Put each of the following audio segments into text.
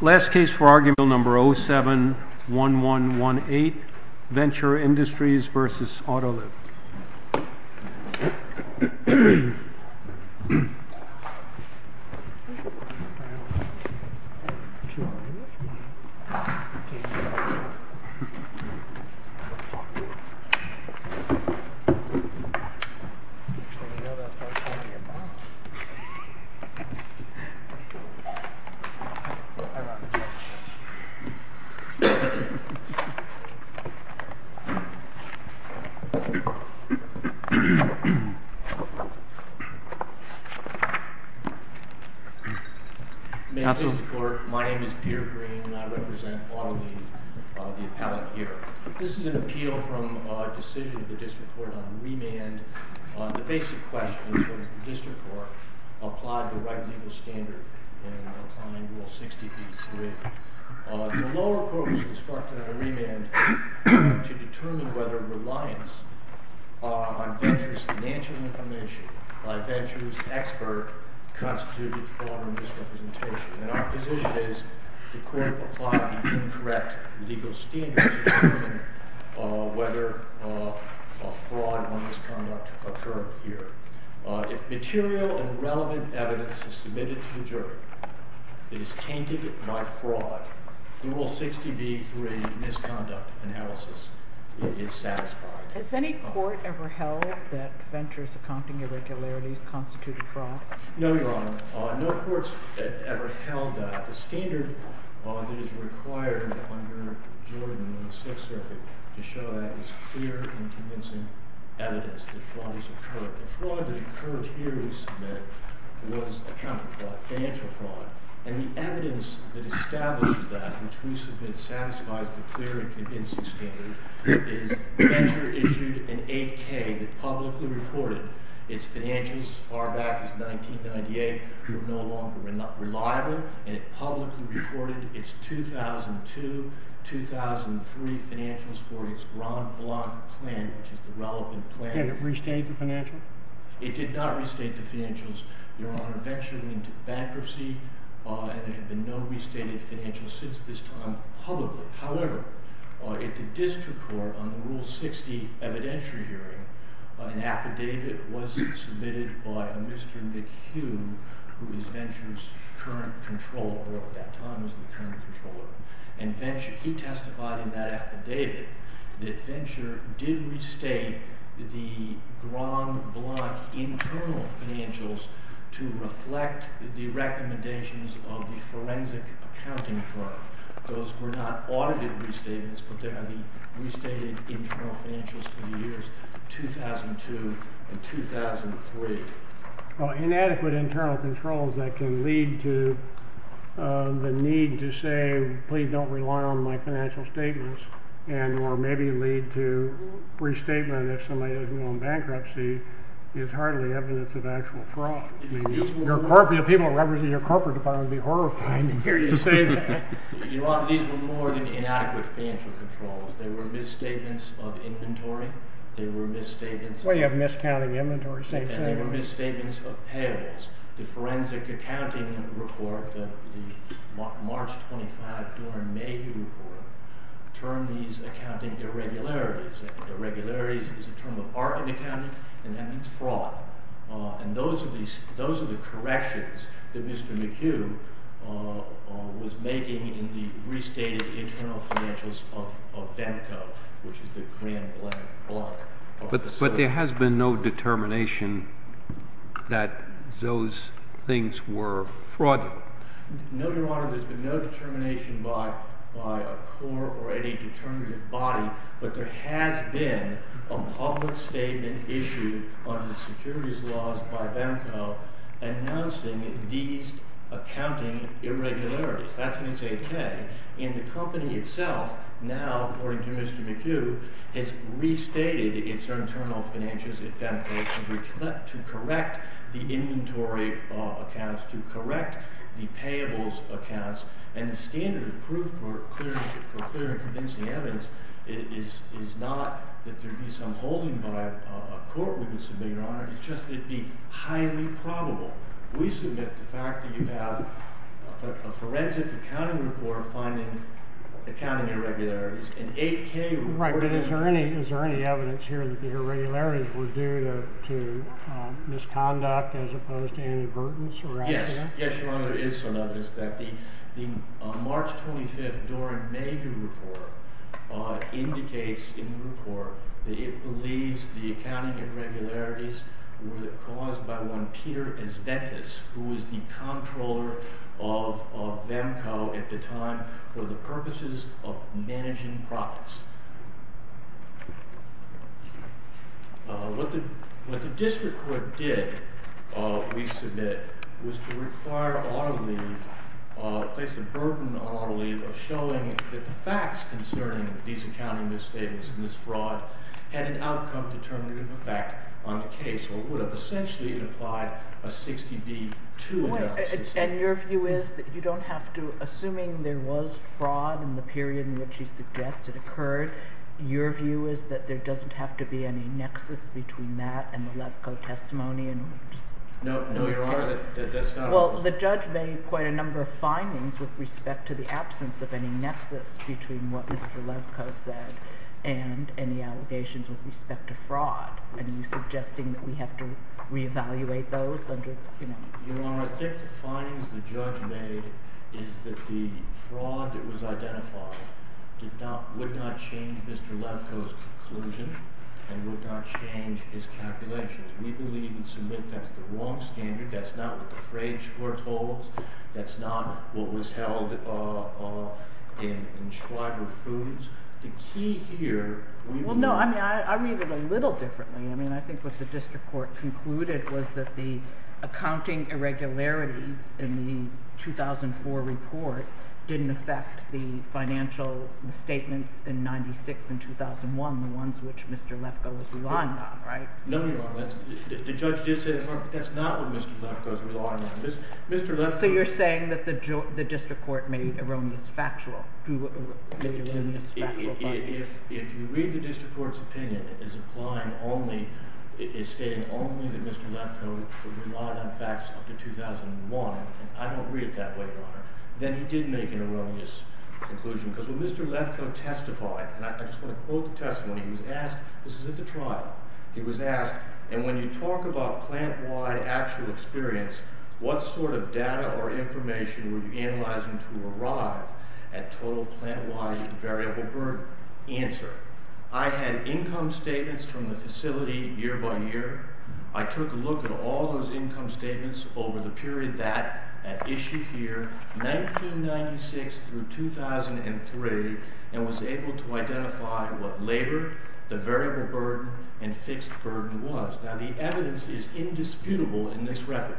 Last case for argument bill number 071118 Venture Industries v. Autoliv District Court, my name is Peter Green and I represent Autoliv, the appellate here. This is an appeal from a decision of the District Court on remand. The basic question is whether there is a legal standard in Applying Rule 60b-3. The lower court was instructed on remand to determine whether reliance on Venture's financial information by Venture's expert constituted fraud or misrepresentation. And our position is the court applied the incorrect legal standard to determine whether a fraud or misconduct occurred here. If material and information is submitted to the jury that is tainted by fraud, the Rule 60b-3 misconduct analysis is satisfied. Has any court ever held that Venture's accounting irregularities constituted fraud? No, Your Honor. No courts have ever held that. The standard that is required under Jordan in the Sixth Circuit to show that is clear and convincing evidence that fraud has occurred. The fraud that occurred here was accounting fraud, financial fraud. And the evidence that establishes that, which we submit satisfies the clear and convincing standard, is Venture issued an 8k that publicly reported its financials as far back as 1998 were no longer reliable and it publicly reported its 2002-2003 financials for its Grand Blanc plan, which is the relevant plan. Did it restate the financials? It did not restate the financials, Your Honor. Venture went into bankruptcy and there have been no restated financials since this time publicly. However, at the district court on the Rule 60 evidentiary hearing, an affidavit was submitted by a Mr. McHugh, who is Venture's current controller, and he testified in that affidavit that Venture did restate the Grand Blanc internal financials to reflect the recommendations of the forensic accounting firm. Those were not audited restatements, but they are the restated internal financials for the years 2002 and 2003. Inadequate internal controls that can lead to the need to say, please don't rely on my financial statements, and or maybe lead to restatement if somebody doesn't go on bankruptcy, is hardly evidence of actual fraud. I mean, the people that represent your corporate department would be horrified to hear you say that. Your Honor, these were more than inadequate financial controls. They were misstatements of inventory. They were misstatements of... They were misstatements of payables. The forensic accounting report, the March 25, Doren Mayhew report, termed these accounting irregularities. Irregularities is a term of art in accounting, and that means fraud. And those are the corrections that Mr. McHugh was making in the restated internal financials of Venco, which is the Grand Blanc block. But there has been no determination that those things were fraud. No, Your Honor, there's been no determination by a core or any determinative body, but there has been a public statement issued under the securities laws by Venco announcing these accounting irregularities. That's an S.A.K. And the company itself now, according to Mr. McHugh, has restated its internal financials at Venco to correct the inventory accounts, to correct the payables accounts. And the standard of proof for clear and convincing evidence is not that there'd be some holding by a court, we would submit, Your Honor. It's just that it'd be highly probable. We submit the fact that you have a forensic accounting report finding accounting irregularities. An 8K report... Right, but is there any evidence here that the irregularities were due to misconduct as opposed to inadvertence or accident? Yes. Yes, Your Honor, there is some evidence that the March 25th Doran Mayhew report indicates in the report that it believes the accounting irregularities were caused by one entity at a time for the purposes of managing profits. What the district court did, we submit, was to require auto leave, place a burden on auto leave, showing that the facts concerning these accounting misstatements and this fraud had an outcome determinative effect on the case or would have essentially implied a 60-D2 analysis. And your view is that you don't have to, assuming there was fraud in the period in which you suggest it occurred, your view is that there doesn't have to be any nexus between that and the Levko testimony? No, Your Honor, that's not what I'm saying. Well, the judge made quite a number of findings with respect to the absence of any nexus between what Mr. Levko said and any allegations with respect to fraud. Are you suggesting that we have to reevaluate those under, you know... Your Honor, I think the findings the judge made is that the fraud that was identified did not, would not change Mr. Levko's conclusion and would not change his calculations. We believe and submit that's the wrong standard, that's not what the Frege court holds, that's not what was held in Schwager Foods. The key here... Well, no, I mean, I read it a little differently. I mean, I think what the district court concluded was that the accounting irregularities in the 2004 report didn't affect the financial statements in 96 and 2001, the ones which Mr. Levko was relying on, right? No, Your Honor, the judge did say that's not what Mr. Levko was relying on. Mr. Levko... So you're saying that the district court made erroneous factual findings? If you read the district court's opinion, it's stating only that Mr. Levko relied on facts up to 2001, and I don't read it that way, Your Honor, then he did make an erroneous conclusion. Because when Mr. Levko testified, and I just want to quote the testimony, he was asked, this is at the trial, he was asked, and when you talk about plant-wide actual experience, what sort of data or information were you analyzing to arrive at total plant-wide variable burden? Answer, I had income statements from the facility year by year. I took a look at all those income statements over the period that at issue here, 1996 through 2003, and was able to identify what labor, the variable burden, and fixed burden was. Now, the evidence is indisputable in this record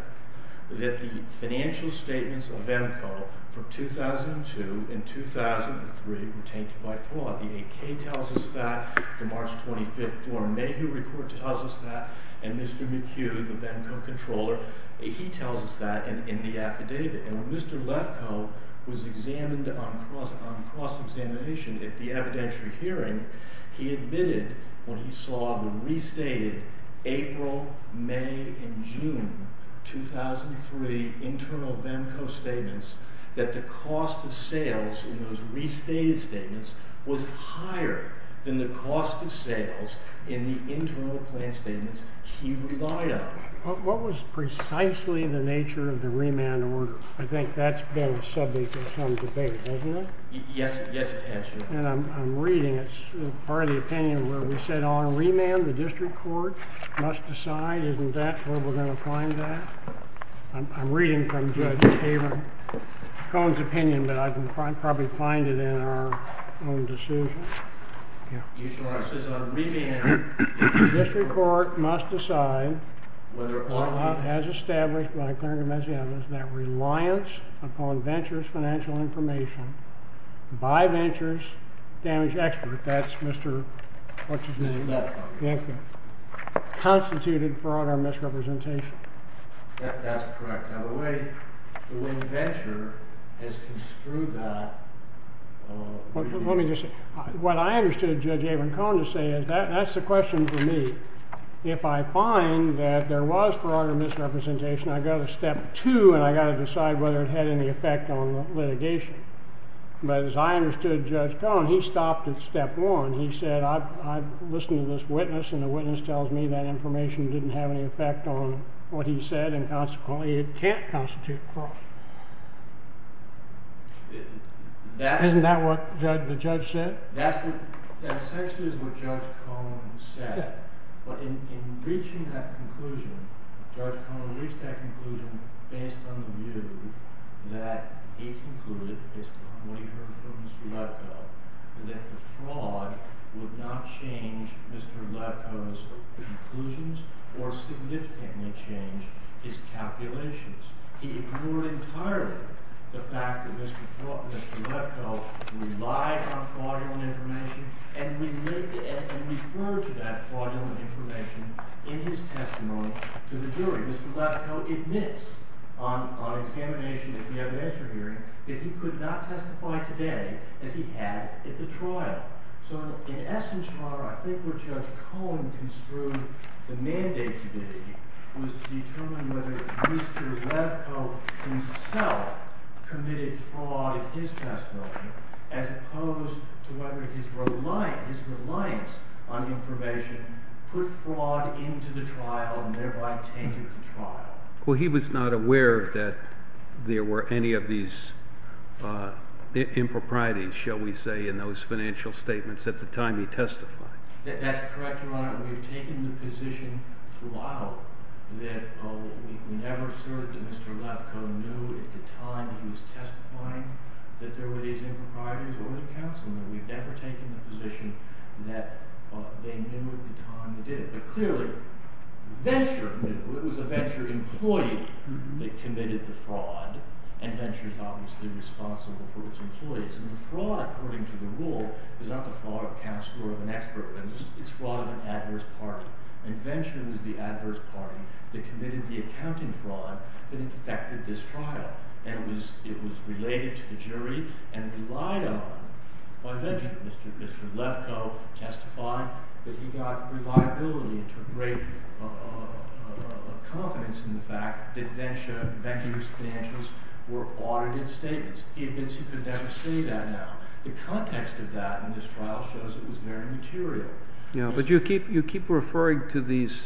that the financial statements of EMCO from 2002 and 2003 were taken by fraud. The AK tells us that, the March 25th dorm Mayhew report tells us that, and Mr. McHugh, the EMCO controller, he tells us that in the affidavit. And when Mr. Levko was examined on cross-examination at the evidentiary hearing, he admitted when he saw the restated April, May, and June 2003 internal VEMCO statements, that the cost of sales in those restated statements was higher than the cost of sales in the internal plant statements he relied on. What was precisely the nature of the remand order? I think that's been a subject of some debate, hasn't it? Yes, yes it has. And I'm reading, it's part of the opinion where we said on remand, the district court must decide, isn't that where we're going to find that? I'm reading from Judge Cohen's opinion, but I can probably find it in our own decision. District court must decide whether or not it has established that reliance upon venture's financial information by venture's damage expert, that's Mr. Levko, constituted fraud or misrepresentation. That's correct. Now the way venture has construed that... Let me just say, what I understood Judge Avery Cohen to say is, that's the question for me. If I find that there was fraud or misrepresentation, I go to step two and I got to decide whether it had any effect on litigation. But as I understood Judge Cohen, he stopped at step one. He said, I've listened to this witness and the witness tells me that information didn't have any effect on what he said and consequently it can't constitute fraud. Isn't that what the judge said? That's essentially what Judge Cohen said, but in reaching that conclusion, Judge Cohen reached that conclusion based on the view that he concluded, based on what he heard from Mr. Levko, that the fraud would not change Mr. He ignored entirely the fact that Mr. Levko relied on fraudulent information and referred to that fraudulent information in his testimony to the jury. Mr. Levko admits on examination at the evidentiary hearing that he could not testify today as he had at the trial. So in Mr. Levko himself committed fraud in his testimony as opposed to whether his reliance on information put fraud into the trial and thereby tainted the trial. Well, he was not aware that there were any of these improprieties, shall we say, in those financial statements at the Mr. Levko knew at the time he was testifying that there were these improprieties or the counsel and that we've never taken the position that they knew at the time they did it. But clearly, Venture knew. It was a Venture employee that committed the fraud and Venture is obviously responsible for its employees. And the fraud, according to the rule, is not the fraud of counsel or of an expert witness. It's fraud of an adverse party. And Venture is the adverse party that committed the accounting fraud that infected this trial. And it was related to the jury and relied on by Venture. Mr. Levko testified that he got reliability and took great confidence in the fact that Venture's financials were audited statements. He admits he could never say that now. The context of that in this trial shows it was very material. But you keep referring to these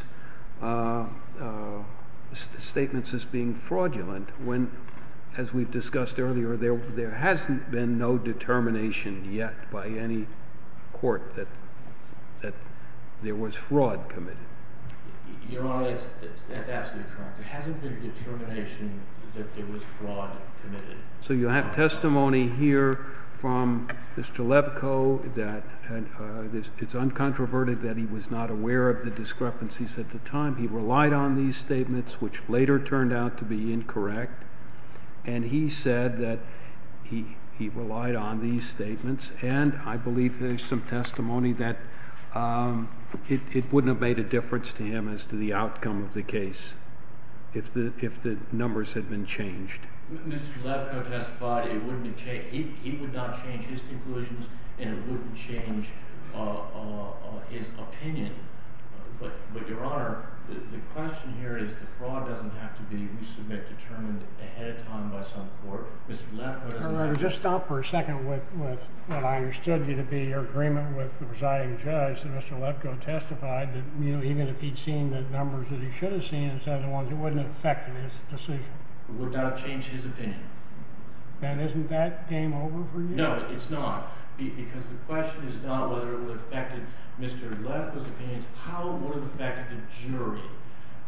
statements as being fraudulent when, as we've discussed earlier, there hasn't been no determination yet by any court that there was fraud committed. Your Honor, it's absolutely correct. There hasn't been determination that there was fraud So you have testimony here from Mr. Levko that it's uncontroverted that he was not aware of the discrepancies at the time. He relied on these statements, which later turned out to be incorrect. And he said that he relied on these statements. And I believe there's some testimony that it wouldn't have made a difference to him as to the outcome of the Mr. Levko testified, he would not change his conclusions and it wouldn't change his opinion. But, Your Honor, the question here is the fraud doesn't have to be determined ahead of time by some court. Mr. Levko doesn't have to Your Honor, just stop for a second with what I understood to be your agreement with the presiding judge that Mr. Levko testified that even if he'd seen the numbers that he should have seen instead of the ones, it wouldn't have affected his decision. It would not have changed his opinion. Then isn't that game over for you? No, it's not. Because the question is not whether it would have affected Mr. Levko's opinions, how would it have affected the jury?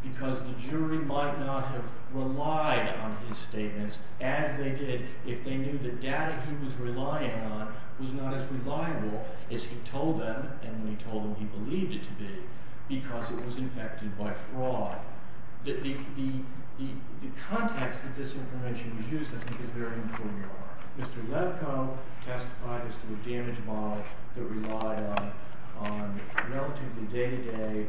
Because the jury might not have relied on his statements as they did if they knew the data he was relying on was not as reliable as he told them and when he told them he believed it to be because it was infected by fraud. The context that this information was used, I think, is very important, Your Honor. Mr. Levko testified as to a damage model that relied on relatively day-to-day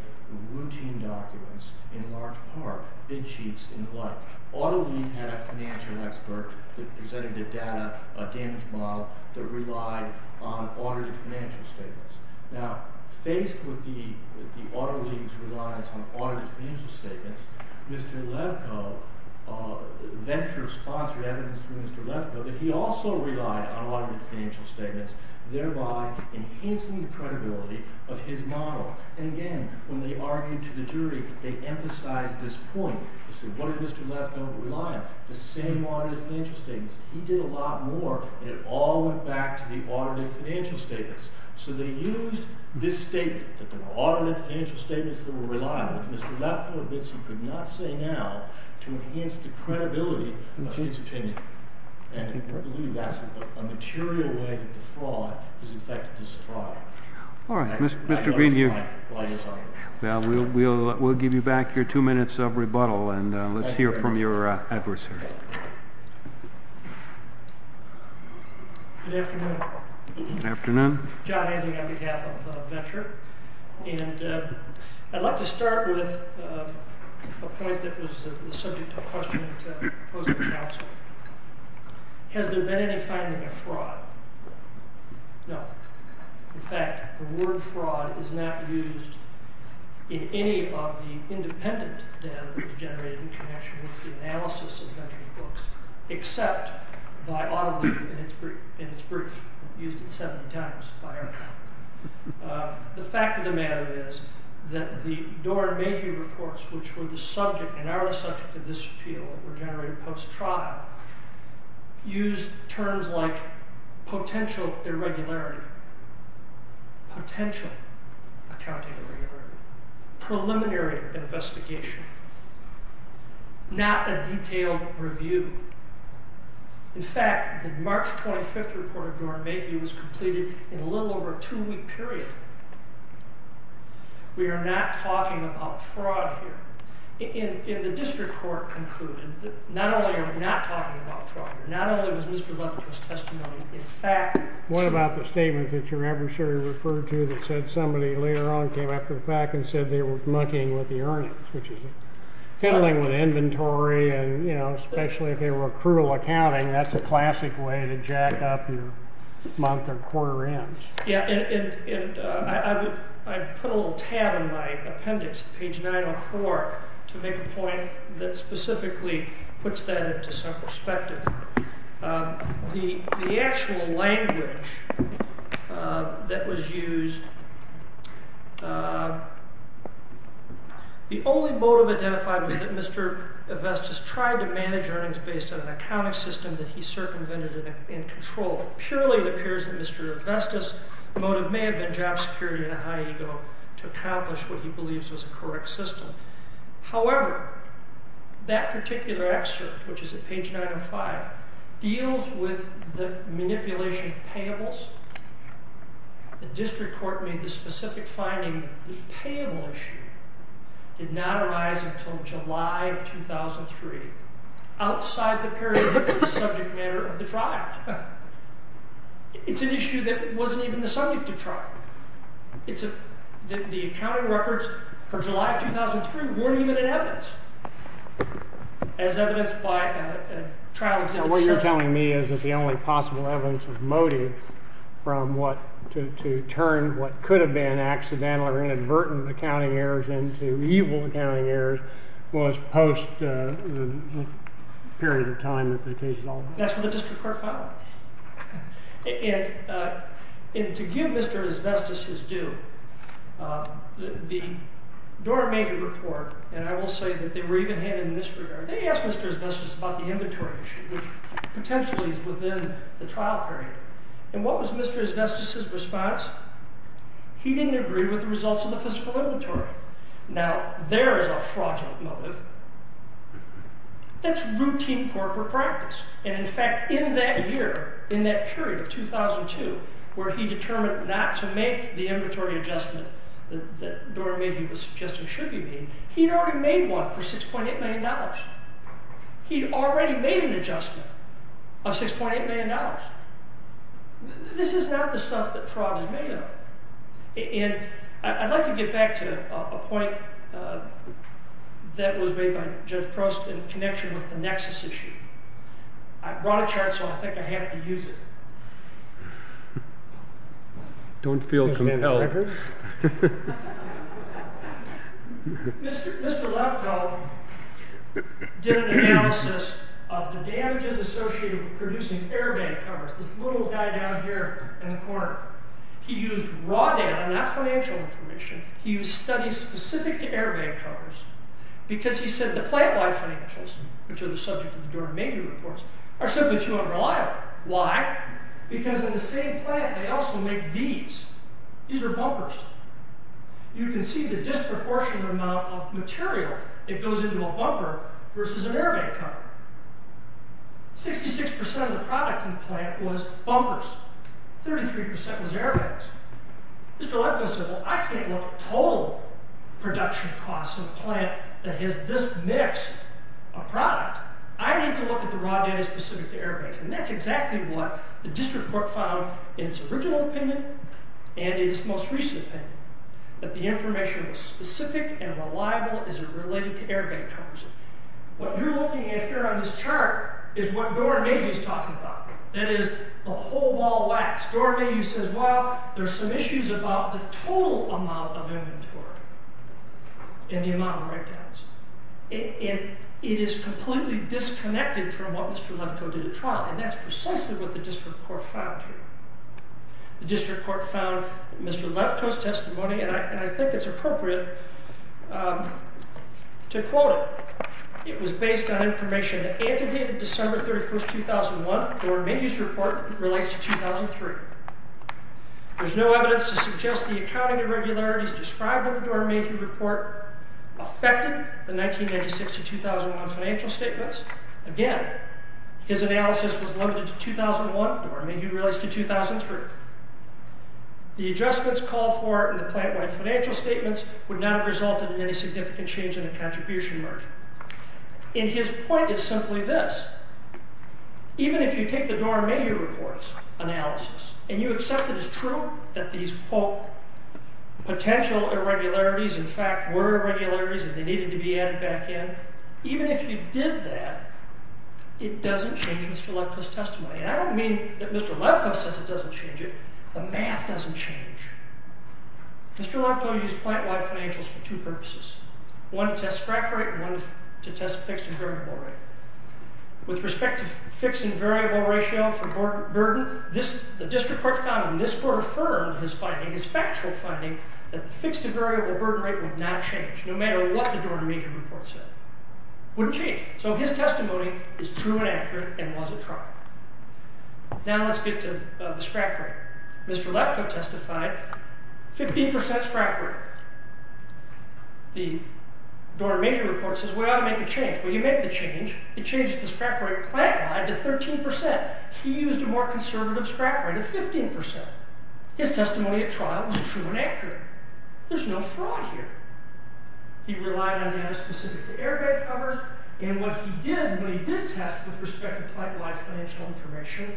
routine documents in large part, bid sheets and the like. AutoLeaf had a financial expert that presented the data, a damage model, that relied on audited financial statements. Now, faced with the AutoLeaf's reliance on audited financial statements, Mr. Levko, Venture sponsored evidence from Mr. Levko that he also relied on audited financial statements, thereby enhancing the credibility of his model. And again, when they argued to the jury, they emphasized this point. They said, what did Mr. Levko rely on? The same audited financial statements. He did a lot more and it all went back to the audited financial statements. So they used this statement, that there were audited financial statements that were reliable, that Mr. Levko admits he could not say now to enhance the credibility of his opinion. And I believe that's a material way that the fraud is infected this fraud. All right. Mr. Green, we'll give you back your two minutes of rebuttal and let's hear from your adversary. Good afternoon. Good afternoon. John Ending on behalf of Venture. And I'd like to start with a point that was the subject of a question that I proposed to the council. Has there been any finding of fraud? No. In fact, the word fraud is not used in any of the independent data that was generated in connection with the analysis of Venture's books, except by Auditor in its brief, used at 70 times by our panel. The fact of the matter is that the Dorn-Mahieu reports, which were the subject and are the subject of this appeal, were generated post-trial, use terms like potential irregularity, potential accounting irregularity, preliminary investigation, not a detailed review. In fact, the March 25th report of Dorn-Mahieu was completed in a little over a two-week period. We are not talking about fraud here. In the district court conclusion, not only are we not talking about fraud, not only was Mr. Leverett's testimony in fact... What about the statement that your adversary referred to that said somebody later on came after the fact and said they were monkeying with the earnings, which is fiddling with inventory and, you know, especially if they were accrual accounting, that's a classic way to jack up your month or quarter ends. Yeah, and I put a little tab in my appendix, page 904, to make a point that specifically puts that into some perspective. The actual language that was used, the only motive identified was that Mr. Avestis tried to manage earnings based on an accounting system that he circumvented and controlled. Purely it appears that Mr. Avestis' motive may have been job security and a high ego to accomplish what he believes was a correct system. However, that particular excerpt, which is at page 905, deals with the manipulation of payables. The district court made the specific finding the payable issue did not arise until July of 2003, outside the period that was the subject matter of the trial. It's an issue that wasn't even the subject of trial. The accounting records for July of 2003 weren't even in evidence as evidenced by a trial exhibit. What you're telling me is that the only possible evidence of motive to turn what could have been accidental or inadvertent accounting errors into evil accounting errors was post the period of time that they changed it all? That's what the district court found. And to give Mr. Avestis his due, the Dora Mehta report, and I will say that they were even handed in this regard, they asked Mr. Avestis about the inventory issue, which potentially is within the trial period. And what was Mr. Avestis' response? He didn't agree with the results of the fiscal inventory. Now, there is a fraudulent motive. That's routine corporate practice. And in fact, in that year, in that period of 2002, where he determined not to make the inventory adjustment that Dora Mehta was suggesting should be made, he'd already made one for $6.8 million. He'd already made an adjustment of $6.8 million. This is not the stuff that fraud is made of. And I'd like to get back to a point that was made by Judge Prost in connection with the nexus issue. I brought a chart, so I think I have to use it. Don't feel compelled. Mr. Lefkoe did an analysis of the damages associated with producing airbag covers. This is raw data, not financial information. He used studies specific to airbag covers because he said the plant-wide financials, which are the subject of the Dora Mehta reports, are simply too unreliable. Why? Because in the same plant, they also make these. These are bumpers. You can see the disproportionate amount of material that goes into a bumper versus an airbag cover. 66% of the product in the plant was bumpers. 33% was airbags. Mr. Lefkoe said, well, I can't look at total production costs of a plant that has this mix of product. I need to look at the raw data specific to airbags. And that's exactly what the district court found in its original opinion and in its most recent opinion, that the information was specific and reliable as it related to airbag covers. What you're looking at here on this chart is what Dora Mehta is talking about. That is, the whole wall lacks. Dora Mehta says, well, there's some issues about the total amount of inventory and the amount of write-downs. It is completely disconnected from what Mr. Lefkoe did at trial, and that's precisely what the district court found here. The district court found Mr. Lefkoe's testimony, and I think it's appropriate to quote it. It was based on information that Dora Mehta's report relates to 2003. There's no evidence to suggest the accounting irregularities described in the Dora Mehta report affected the 1996 to 2001 financial statements. Again, his analysis was limited to 2001. Dora Mehta relates to 2003. The adjustments called for in the plant-wide financial statements would not have resulted in any significant change in the contribution margin. And his point is simply this. Even if you take the Dora Mehta report's analysis and you accept it as true that these, quote, potential irregularities in fact were irregularities and they needed to be added back in, even if you did that, it doesn't change Mr. Lefkoe's testimony. And I don't mean that Mr. Lefkoe says it doesn't change it. The math doesn't change. Mr. Lefkoe used plant-wide financials for two purposes. One to test scrap rate and one to test fixed and variable rate. With respect to fixed and variable ratio for burden, the district court found and this court affirmed his finding, his factual finding, that the fixed and variable burden rate would not change, no matter what the Dora Mehta report said. Wouldn't change. So his testimony is true and accurate and was a trial. Now let's get to the scrap rate. Mr. Lefkoe testified 15% scrap rate. The Dora Mehta report says we ought to make a change. Well you make the change. It changes the scrap rate plant-wide to 13%. He used a more conservative scrap rate of 15%. His testimony at trial was true and accurate. There's no fraud here. He relied on data specific to airbag covers and what he did when he did test with respect to plant-wide financial information,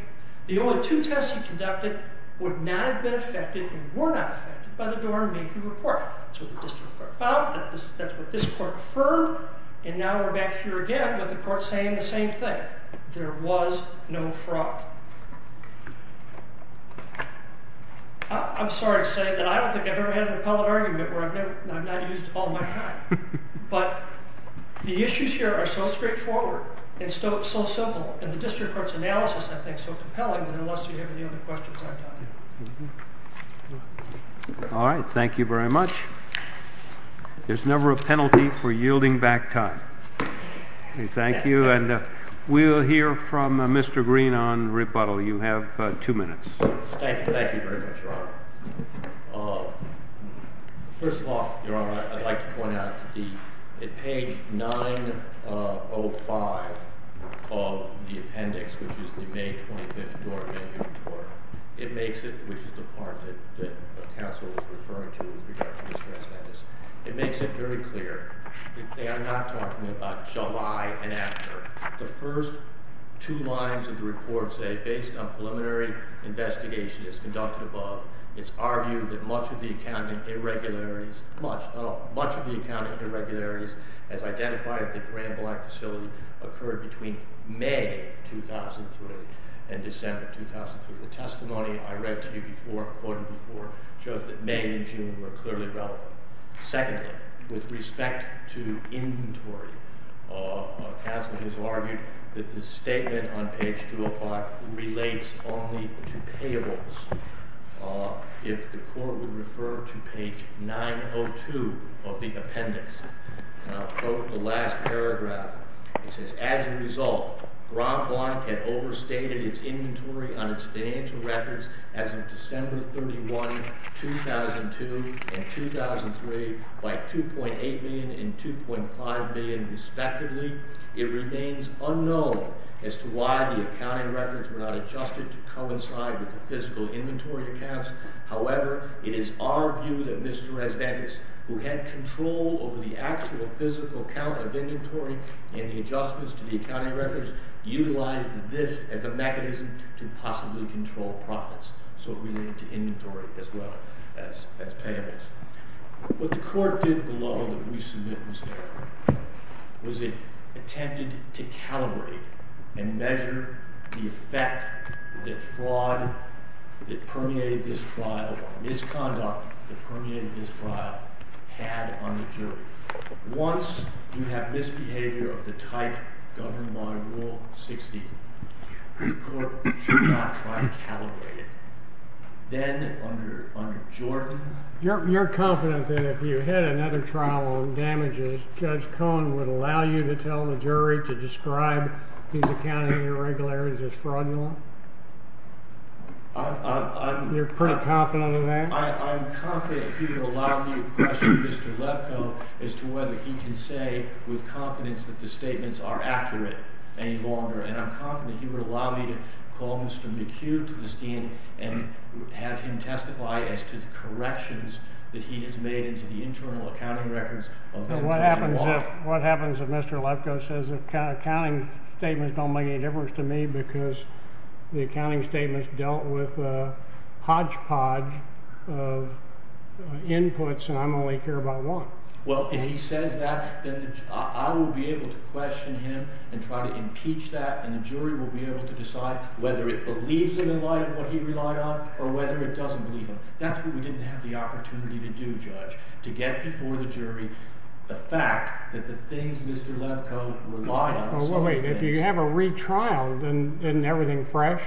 the only two tests he conducted would not have been affected and were not subject to the Dora Mehta report. That's what the district court found, that's what this court affirmed, and now we're back here again with the court saying the same thing. There was no fraud. I'm sorry to say that I don't think I've ever had an appellate argument where I've never, I've not used all my time. But the issues here are so straightforward and so simple and the district court's analysis I think is so compelling that unless you have any other questions, I'm done. All right, thank you very much. There's never a penalty for yielding back time. Thank you and we'll hear from Mr. Green on rebuttal. You have two minutes. Thank you, thank you very much, Your Honor. First off, Your Honor, I'd like to point out that page 905 of the appendix, which is the May 25th Dora Mehta report, it makes it, which is the part that counsel is referring to with regard to distress letters, it makes it very clear that they are not talking about July and after. The first two lines of the report say, based on preliminary investigation as conducted above, it's argued that much of the accounting irregularities, much of the accounting irregularities as identified at the Grand Blanc facility occurred between May 2003 and December 2003. The testimony I read to you before, quoted before, shows that May and June were clearly relevant. Secondly, with respect to inventory, counsel has argued that the statement on page 205 relates only to payables. If the court would refer to page 902 of the appendix, I'll quote the last paragraph. It says, as a result, Grand Blanc had overstated its inventory on its financial records as of December 31, 2002 and 2003 by $2.8 million and $2.5 million were not adjusted to coincide with the physical inventory accounts. However, it is our view that Mr. Resnakis, who had control over the actual physical count of inventory and the adjustments to the accounting records, utilized this as a mechanism to possibly control profits. So we link to inventory as well as payables. What the court did below that we submit was it attempted to calibrate and measure the effect that fraud that permeated this trial or misconduct that permeated this trial had on the jury. Once you have misbehavior of the type governed by Rule 60, the court should not try to calibrate it. Then under Jordan... You're confident that if you had another trial on damages, Judge Cohen would allow you to tell the jury to describe these accounting irregularities as fraudulent? You're pretty confident of that? I'm confident he would allow me to question Mr. Levko as to whether he can say with confidence that the statements are accurate any longer. And I'm confident he would allow me to call Mr. McHugh to the scene and have him testify as to the corrections that he has made into the internal accounting records. What happens if Mr. Levko says the accounting statements don't make any difference to me because the accounting statements dealt with a hodgepodge of inputs and I only care about one? Well, if he says that, then I will be able to question him and try to impeach that and the jury will be able to decide whether it believes him in light of what he relied on or whether it doesn't believe him. That's what we didn't have the opportunity to do, Judge, to get before the jury the fact that the things Mr. Levko relied on... Well, wait. If you have a retrial, then isn't everything fresh?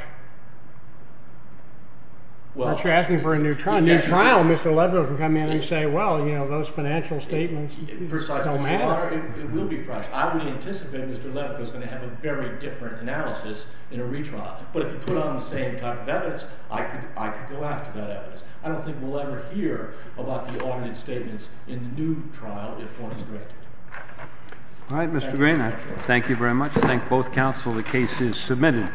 Unless you're asking for a new trial. A new trial, Mr. Levko can come in and say, It will be fresh. I would anticipate Mr. Levko is going to have a very different analysis in a retrial. But if you put on the same type of evidence, I could go after that evidence. I don't think we'll ever hear about the audited statements in the new trial if one is directed. All right, Mr. Green, I thank you very much. I thank both counsel. The case is submitted.